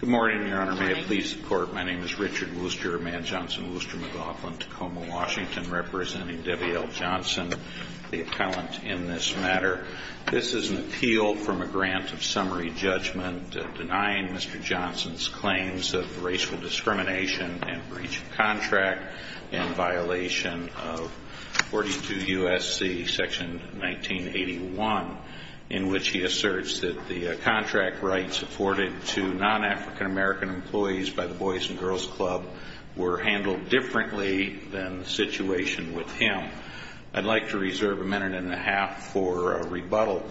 Good morning, Your Honor. May it please the Court, my name is Richard Wooster, Man Johnson, Wooster McLaughlin, Tacoma, Washington, representing Debbie L. Johnson, the appellant in this matter. This is an appeal from a grant of summary judgment denying Mr. Johnson's claims of racial discrimination and breach of contract in violation of 42 U.S.C. section 1981, in which he asserts that the contract rights afforded to non-African American employees by the Boys and Girls Club were handled differently than the situation with him. I'd like to reserve a minute and a half for rebuttal.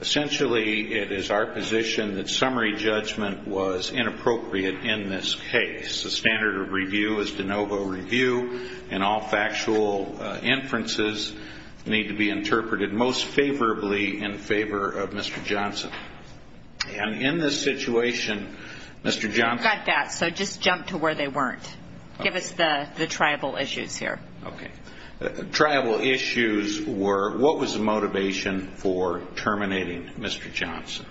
Essentially, it is our position that summary judgment was inappropriate in this case. The standard of review is de novo review, and all factual inferences need to be interpreted most favorably in favor of Mr. Johnson. And in this situation, Mr. Johnson... You got that, so just jump to where they weren't. Give us the tribal issues here. Okay. Tribal issues were, what was the motivation for terminating Mr. Johnson?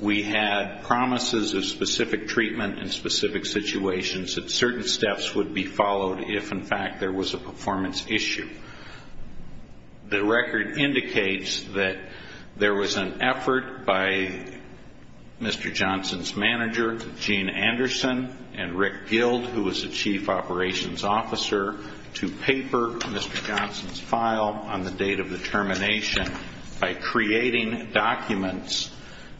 We had promises of specific treatment in specific situations that certain steps would be followed if, in fact, there was a performance issue. The record indicates that there was an effort by Mr. Johnson's manager, Gene Anderson, and Rick Gild, who was the chief operations officer, to paper Mr. Johnson's file on the date of the termination by creating documents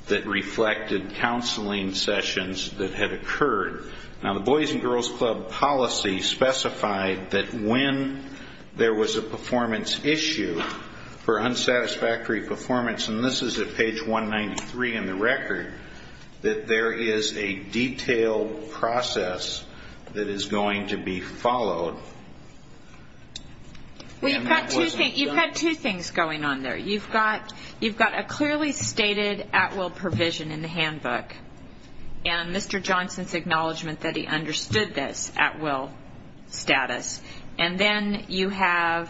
that reflected counseling sessions that had occurred. Now, the Boys and Girls Club policy specified that when there was a performance issue for unsatisfactory performance, and this is at page 193 in the record, that there is a detailed process that is going to be followed. You've got two things going on there. You've got a clearly stated at-will provision in the handbook and Mr. Johnson's acknowledgement that he understood this at-will status. And then you have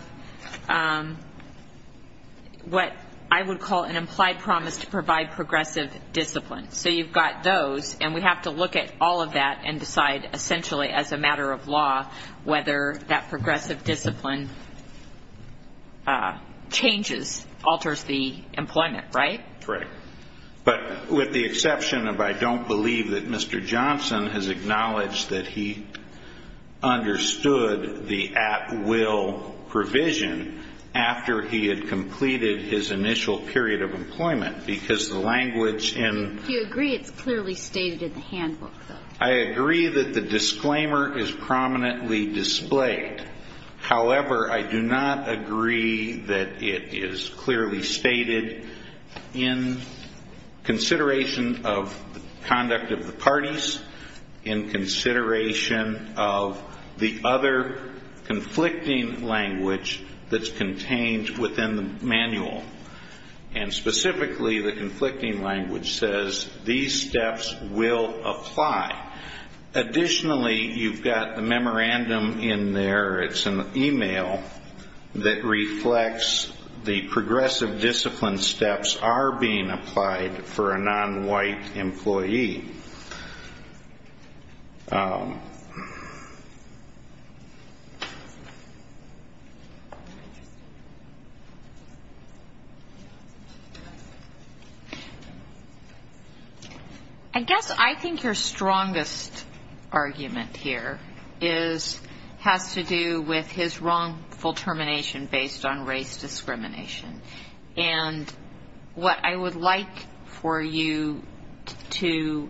what I would call an implied promise to provide progressive discipline. So you've got those, and we have to look at all of that and decide, essentially, as a matter of law, whether that progressive discipline changes, alters the employment, right? But with the exception of I don't believe that Mr. Johnson has acknowledged that he understood the at-will provision after he had completed his initial period of employment, because the language in the handbook... Do you agree it's clearly stated in the handbook, though? I agree that the disclaimer is prominently displayed. However, I do not agree that it is clearly stated in consideration of conduct of the parties, in consideration of the other conflicting language that's contained within the manual. And specifically, the conflicting language says these steps will apply. Additionally, you've got the memorandum in there. It's an email that reflects the progressive discipline steps are being applied for a non-white employee. I guess I think your strongest argument here has to do with his wrongful termination based on race discrimination. And what I would like for you to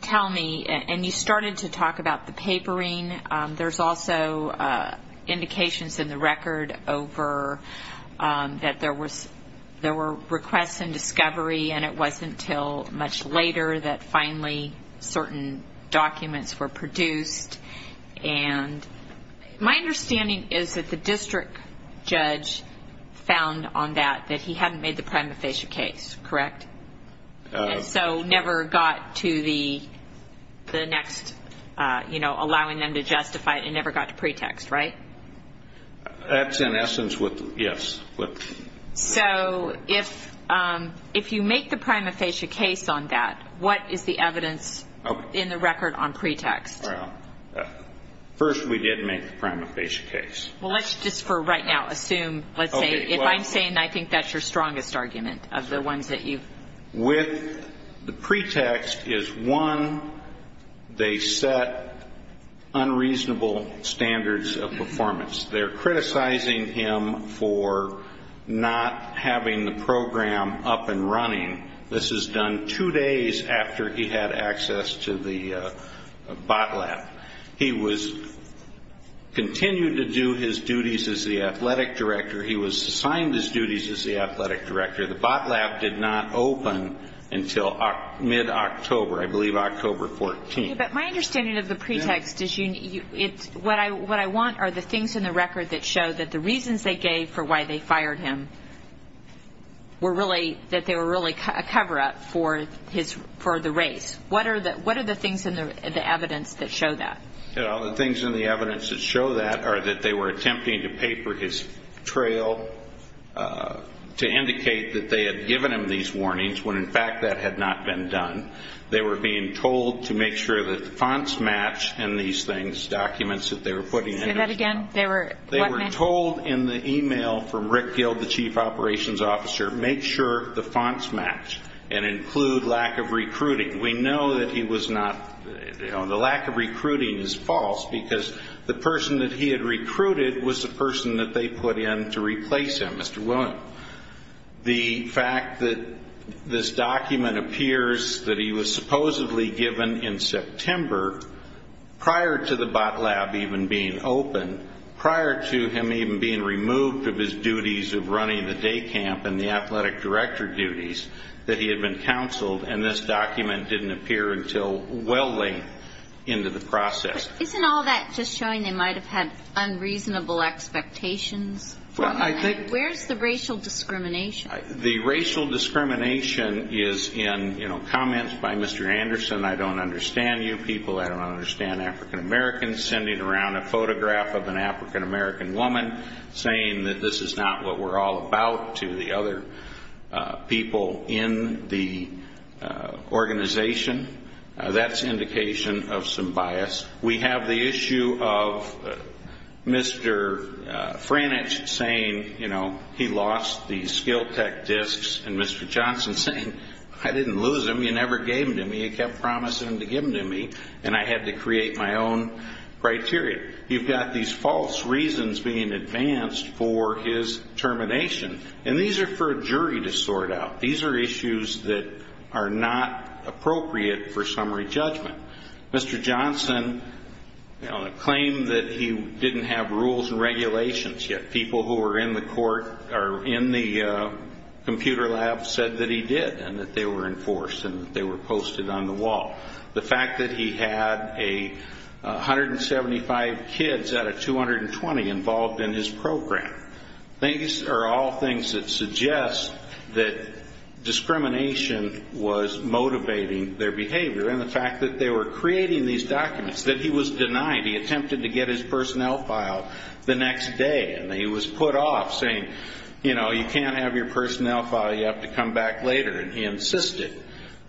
tell me, and you started to talk about the papering. There's also indications in the record over that there were requests and discovery, and it wasn't until much later that finally certain documents were produced. And my understanding is that the district judge found on that that he hadn't made the prima facie case, correct? And so never got to the next, you know, allowing them to justify it, and never got to pretext, right? That's in essence what, yes. So if you make the prima facie case on that, what is the evidence in the record on pretext? Well, first we did make the prima facie case. Well, let's just for right now assume, let's say, If I'm saying I think that's your strongest argument of the ones that you. With the pretext is, one, they set unreasonable standards of performance. They're criticizing him for not having the program up and running. This is done two days after he had access to the bot lab. He continued to do his duties as the athletic director. He was assigned his duties as the athletic director. The bot lab did not open until mid-October, I believe October 14th. But my understanding of the pretext is what I want are the things in the record that show that the reasons they gave for why they fired him were really, that they were really a cover-up for the race. What are the things in the evidence that show that? The things in the evidence that show that are that they were attempting to paper his trail to indicate that they had given him these warnings when, in fact, that had not been done. They were being told to make sure that the fonts match in these things, documents that they were putting in. Say that again? They were told in the e-mail from Rick Gild, the chief operations officer, make sure the fonts match and include lack of recruiting. We know that he was not, you know, the lack of recruiting is false because the person that he had recruited was the person that they put in to replace him, Mr. Willen. The fact that this document appears that he was supposedly given in September prior to the bot lab even being open, prior to him even being removed of his duties of running the day camp and the athletic director duties, that he had been counseled, and this document didn't appear until well into the process. Isn't all that just showing they might have had unreasonable expectations? Well, I think... Where's the racial discrimination? The racial discrimination is in, you know, comments by Mr. Anderson, I don't understand you people, I don't understand African Americans, sending around a photograph of an African American woman saying that this is not what we're all about, to the other people in the organization. That's indication of some bias. We have the issue of Mr. Frannich saying, you know, he lost the skill tech discs, and Mr. Johnson saying, I didn't lose them, you never gave them to me, you kept promising to give them to me, and I had to create my own criteria. You've got these false reasons being advanced for his termination. And these are for a jury to sort out. These are issues that are not appropriate for summary judgment. Mr. Johnson claimed that he didn't have rules and regulations, yet people who were in the court or in the computer lab said that he did, and that they were enforced and they were posted on the wall. The fact that he had 175 kids out of 220 involved in his program. These are all things that suggest that discrimination was motivating their behavior, and the fact that they were creating these documents, that he was denied. He attempted to get his personnel file the next day, and he was put off saying, you know, you can't have your personnel file, you have to come back later. And he insisted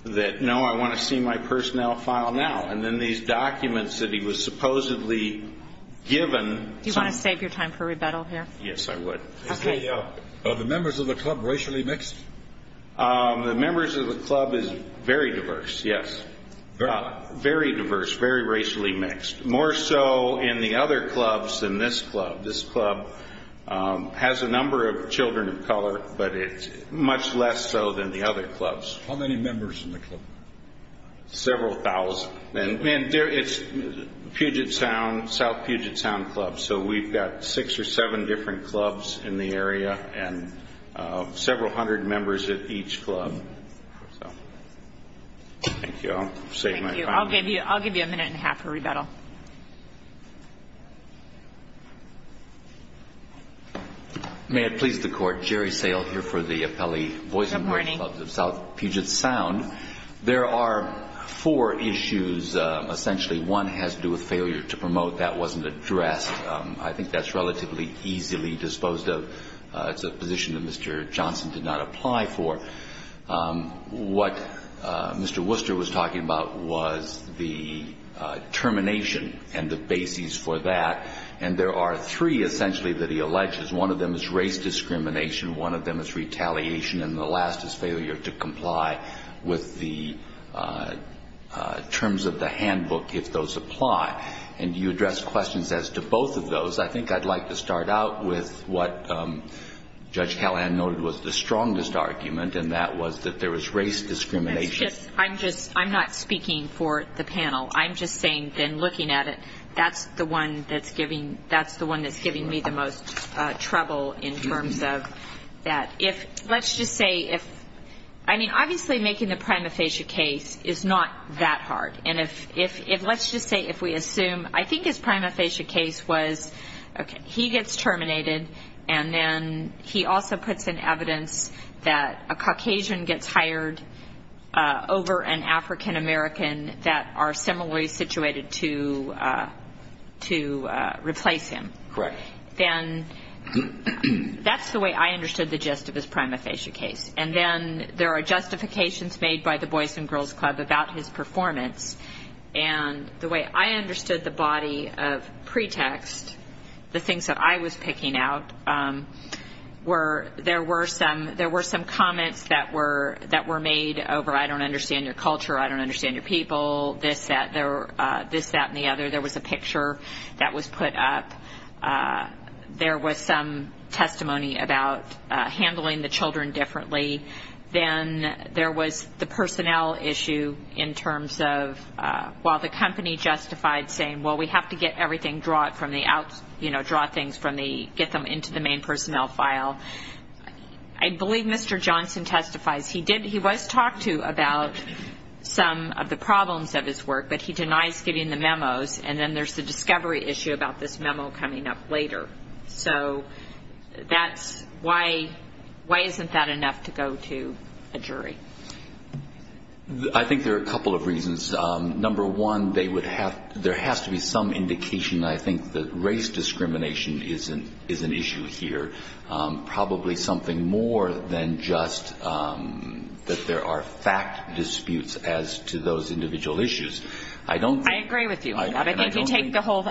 that, no, I want to see my personnel file now. And then these documents that he was supposedly given. Do you want to save your time for rebuttal here? Yes, I would. Okay. Are the members of the club racially mixed? The members of the club is very diverse, yes. Very diverse, very racially mixed. More so in the other clubs than this club. This club has a number of children of color, but it's much less so than the other clubs. How many members in the club? Several thousand. And it's Puget Sound, South Puget Sound clubs, so we've got six or seven different clubs in the area and several hundred members at each club. Thank you. I'll give you a minute and a half for rebuttal. May it please the Court. Jerry Sale here for the Appellee Boys and Girls Clubs of South Puget Sound. There are four issues. Essentially one has to do with failure to promote. That wasn't addressed. I think that's relatively easily disposed of. It's a position that Mr. Johnson did not apply for. What Mr. Worcester was talking about was the termination and the basis for that. And there are three, essentially, that he alleges. One of them is race discrimination. One of them is retaliation. And the last is failure to comply with the terms of the handbook if those apply. And do you address questions as to both of those? I think I'd like to start out with what Judge Callahan noted was the strongest argument, and that was that there was race discrimination. I'm not speaking for the panel. I'm just saying, then, looking at it, that's the one that's giving me the most trouble in terms of that. If, let's just say, if, I mean, obviously making the prima facie case is not that hard. And if, let's just say, if we assume, I think his prima facie case was, okay, he gets terminated, and then he also puts in evidence that a Caucasian gets hired over an African American that are similarly situated to replace him. Correct. Then that's the way I understood the gist of his prima facie case. And then there are justifications made by the Boys and Girls Club about his performance. And the way I understood the body of pretext, the things that I was picking out, were there were some comments that were made over I don't understand your culture, I don't understand your people, this, that, and the other. There was a picture that was put up. There was some testimony about handling the children differently. Then there was the personnel issue in terms of while the company justified saying, well, we have to get everything, draw it from the out, you know, draw things from the, get them into the main personnel file. I believe Mr. Johnson testifies. He did, he was talked to about some of the problems of his work, but he denies getting the memos. And then there's the discovery issue about this memo coming up later. So that's why, why isn't that enough to go to a jury? I think there are a couple of reasons. Number one, they would have, there has to be some indication, I think, that race discrimination is an issue here. Probably something more than just that there are fact disputes as to those individual issues. I don't think. I agree with you on that. I think you take the whole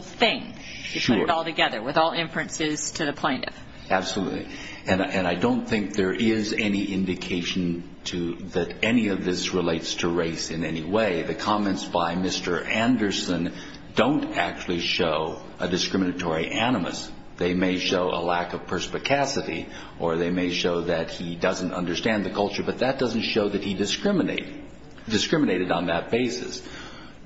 thing. You put it all together with all inferences to the plaintiff. Absolutely. And I don't think there is any indication to, that any of this relates to race in any way. The comments by Mr. Anderson don't actually show a discriminatory animus. They may show a lack of perspicacity or they may show that he doesn't understand the culture, but that doesn't show that he discriminated on that basis.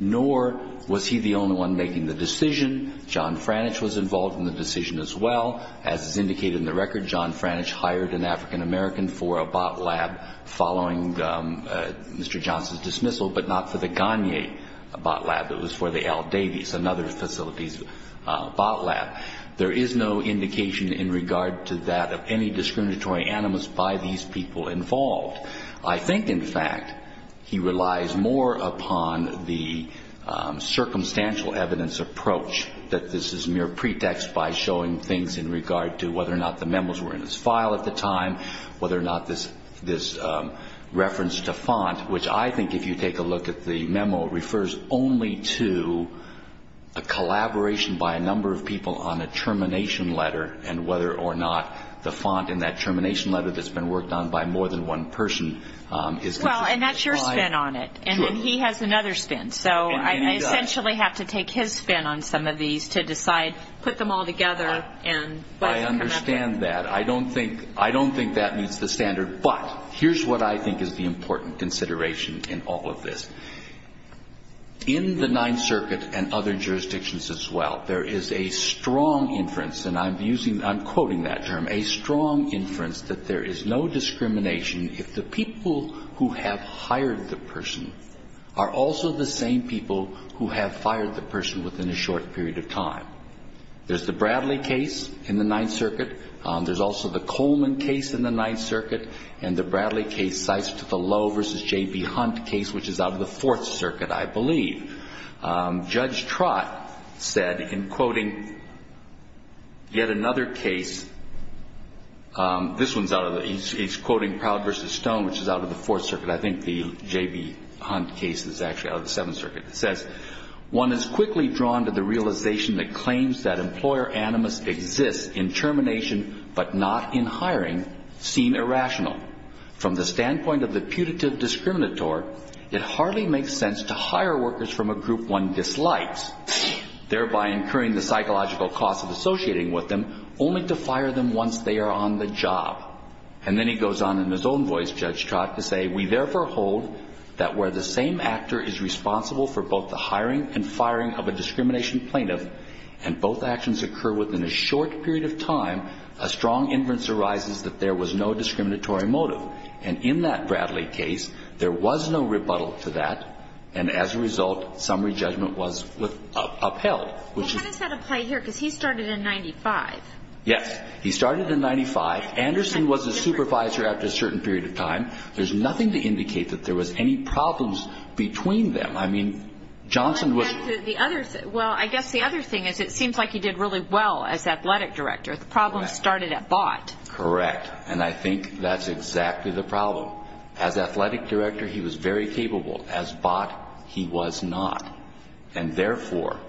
Nor was he the only one making the decision. John Franish was involved in the decision as well. As is indicated in the record, John Franish hired an African-American for a bot lab following Mr. Johnson's dismissal, but not for the Gagne bot lab. It was for the L. Davies and other facilities bot lab. There is no indication in regard to that of any discriminatory animus by these people involved. I think, in fact, he relies more upon the circumstantial evidence approach, that this is mere pretext by showing things in regard to whether or not the memos were in his file at the time, whether or not this reference to font, which I think if you take a look at the memo, refers only to a collaboration by a number of people on a termination letter and whether or not the font in that termination letter that's been worked on by more than one person is consistent. Well, and that's your spin on it. Sure. And he has another spin. And he does. So I essentially have to take his spin on some of these to decide, put them all together and let them come up with it. I understand that. I don't think that meets the standard. But here's what I think is the important consideration in all of this. In the Ninth Circuit and other jurisdictions as well, there is a strong inference, and I'm quoting that term, a strong inference that there is no discrimination if the people who have hired the person are also the same people who have fired the person within a short period of time. There's the Bradley case in the Ninth Circuit. There's also the Coleman case in the Ninth Circuit. And the Bradley case cites the Lowe v. J.B. Hunt case, which is out of the Fourth Circuit, I believe. Judge Trott said in quoting yet another case, this one's out of the, he's quoting Proud v. Stone, which is out of the Fourth Circuit. I think the J.B. Hunt case is actually out of the Seventh Circuit. It says, One is quickly drawn to the realization that claims that employer animus exists in termination but not in hiring seem irrational. From the standpoint of the putative discriminator, it hardly makes sense to hire workers from a group one dislikes, thereby incurring the psychological cost of associating with them only to fire them once they are on the job. And then he goes on in his own voice, Judge Trott, to say, We therefore hold that where the same actor is responsible for both the hiring and firing of a discrimination plaintiff and both actions occur within a short period of time, a strong inference arises that there was no discriminatory motive. And in that Bradley case, there was no rebuttal to that, and as a result, summary judgment was upheld. But Hunt has had a play here because he started in 95. Yes. He started in 95. Anderson was his supervisor after a certain period of time. There's nothing to indicate that there was any problems between them. I mean, Johnson was... Well, I guess the other thing is it seems like he did really well as athletic director. The problem started at Bott. Correct. And I think that's exactly the problem. As athletic director, he was very capable. As Bott, he was not. And therefore,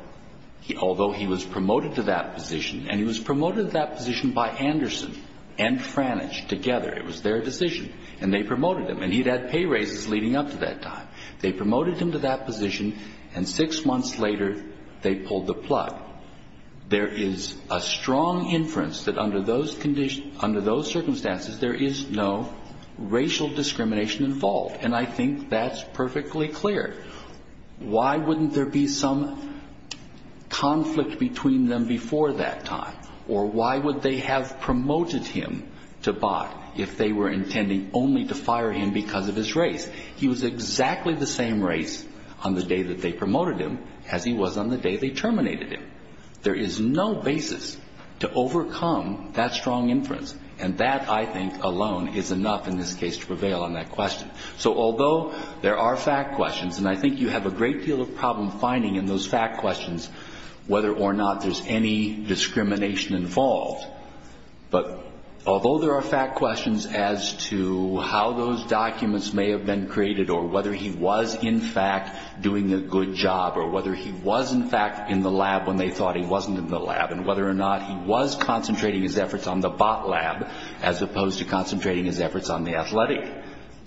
although he was promoted to that position, and he was promoted to that position by Anderson and Franich together. It was their decision. And they promoted him, and he'd had pay raises leading up to that time. They promoted him to that position, and six months later, they pulled the plug. There is a strong inference that under those circumstances, there is no racial discrimination involved. And I think that's perfectly clear. Why wouldn't there be some conflict between them before that time? Or why would they have promoted him to Bott if they were intending only to fire him because of his race? He was exactly the same race on the day that they promoted him as he was on the day they terminated him. There is no basis to overcome that strong inference. And that, I think, alone is enough in this case to prevail on that question. So although there are fact questions, and I think you have a great deal of problem finding in those fact questions, whether or not there's any discrimination involved. But although there are fact questions as to how those documents may have been created or whether he was in fact doing a good job or whether he was in fact in the lab when they thought he wasn't in the lab and whether or not he was concentrating his efforts on the Bott lab as opposed to concentrating his efforts on the athletic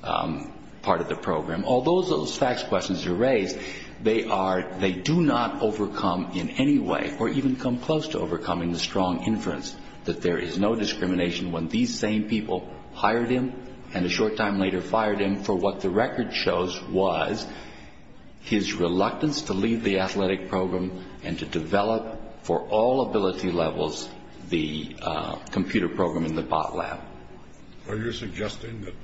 part of the program. Although those fact questions are raised, they do not overcome in any way or even come close to overcoming the strong inference that there is no discrimination when these same people hired him and a short time later fired him for what the record shows was his reluctance to leave the athletic program and to develop for all ability levels the computer program in the Bott lab. Are you suggesting that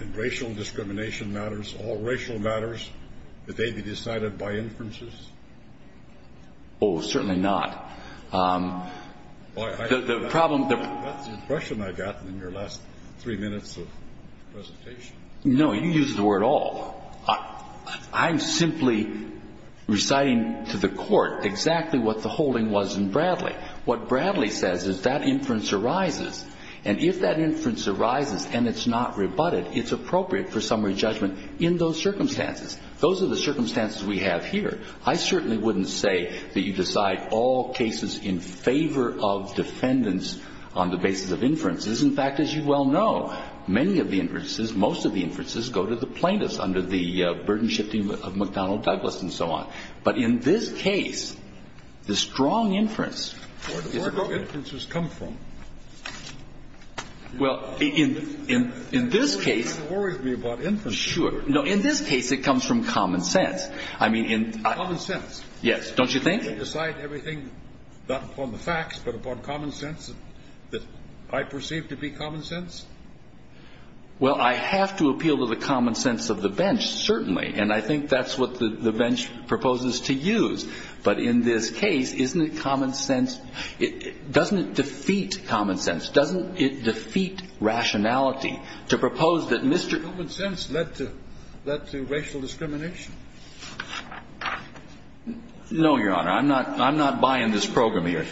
in racial discrimination matters, all racial matters, that they be decided by inferences? Oh, certainly not. That's the impression I got in your last three minutes of presentation. No, you used the word all. I'm simply reciting to the court exactly what the holding was in Bradley. What Bradley says is that inference arises, and if that inference arises and it's not rebutted, it's appropriate for summary judgment in those circumstances. Those are the circumstances we have here. I certainly wouldn't say that you decide all cases in favor of defendants on the basis of inferences. In fact, as you well know, many of the inferences, most of the inferences, go to the plaintiffs under the burden-shifting of McDonnell Douglas and so on. But in this case, the strong inference is a good inference. Where do inferences come from? Well, in this case. That's what worries me about inference. Sure. No, in this case, it comes from common sense. I mean in... Common sense. Yes, don't you think? Well, I have to appeal to the common sense of the bench, certainly. And I think that's what the bench proposes to use. But in this case, isn't it common sense? Doesn't it defeat common sense? Doesn't it defeat rationality to propose that Mr.... Common sense led to racial discrimination. No, Your Honor. I don't think so. I'm not buying this program here.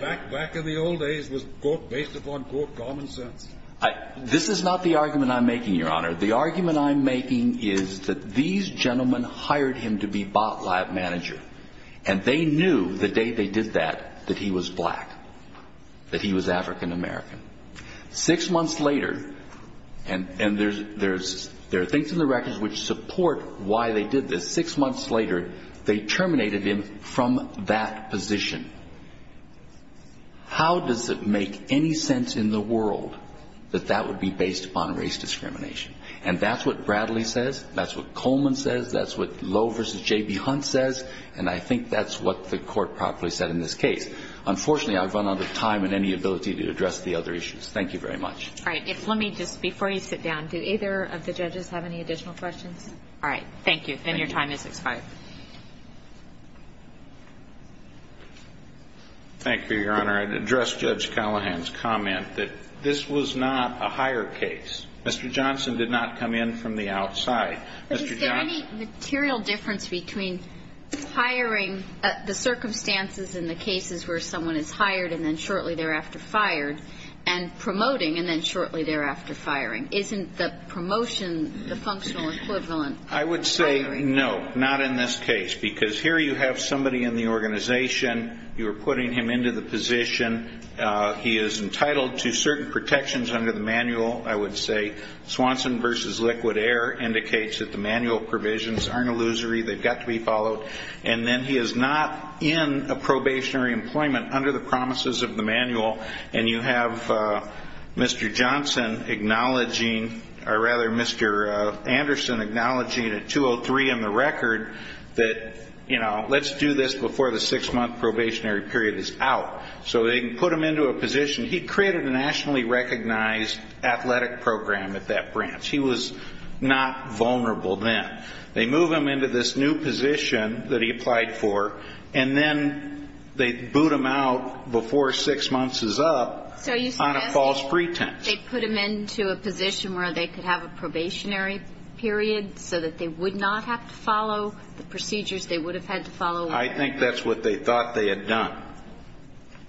Back in the old days, it was, quote, based upon, quote, common sense. This is not the argument I'm making, Your Honor. The argument I'm making is that these gentlemen hired him to be bot lab manager. And they knew the day they did that that he was black, that he was African American. Six months later, and there are things in the records which support why they did this. Six months later, they terminated him from that position. How does it make any sense in the world that that would be based upon race discrimination? And that's what Bradley says. That's what Coleman says. That's what Lowe v. J.B. Hunt says. And I think that's what the court properly said in this case. Unfortunately, I've run out of time and any ability to address the other issues. Thank you very much. All right. Let me just, before you sit down, do either of the judges have any additional questions? All right. Thank you. And your time has expired. Thank you, Your Honor. I'd address Judge Callahan's comment that this was not a hire case. Mr. Johnson did not come in from the outside. But is there any material difference between hiring, the circumstances in the cases where someone is hired and then shortly thereafter fired, and promoting and then shortly thereafter firing? Isn't the promotion the functional equivalent? I would say no, not in this case. Because here you have somebody in the organization. You are putting him into the position. He is entitled to certain protections under the manual, I would say. Swanson v. Liquid Air indicates that the manual provisions aren't illusory. They've got to be followed. And then he is not in a probationary employment under the promises of the manual. And you have Mr. Johnson acknowledging, or rather Mr. Anderson acknowledging at 203 in the record that, you know, let's do this before the six-month probationary period is out. So they can put him into a position. He created a nationally recognized athletic program at that branch. He was not vulnerable then. They move him into this new position that he applied for, and then they boot him out before six months is up on a false pretense. So you suggest they put him into a position where they could have a probationary period so that they would not have to follow the procedures they would have had to follow? I think that's what they thought they had done.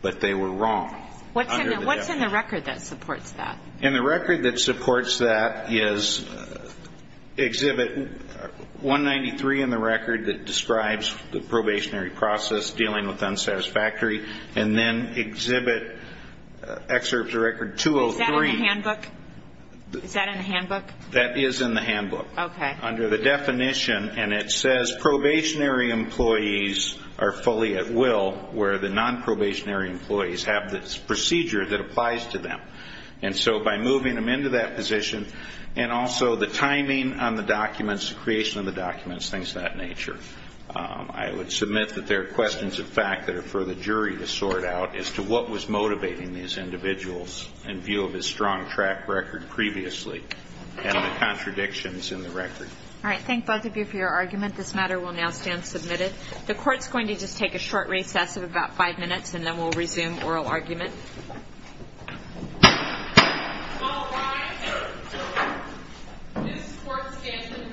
But they were wrong. What's in the record that supports that? In the record that supports that is exhibit 193 in the record that describes the probationary process dealing with unsatisfactory, and then exhibit excerpts of record 203. Is that in the handbook? That is in the handbook. Okay. Under the definition, and it says probationary employees are fully at will where the nonprobationary employees have the procedure that applies to them. And so by moving them into that position and also the timing on the documents, the creation of the documents, things of that nature, I would submit that there are questions, in fact, that are for the jury to sort out as to what was motivating these individuals in view of his strong track record previously and the contradictions in the record. All right. Thank both of you for your argument. This matter will now stand submitted. The court's going to just take a short recess of about five minutes, and then we'll resume oral argument. All rise. This court stands in recess.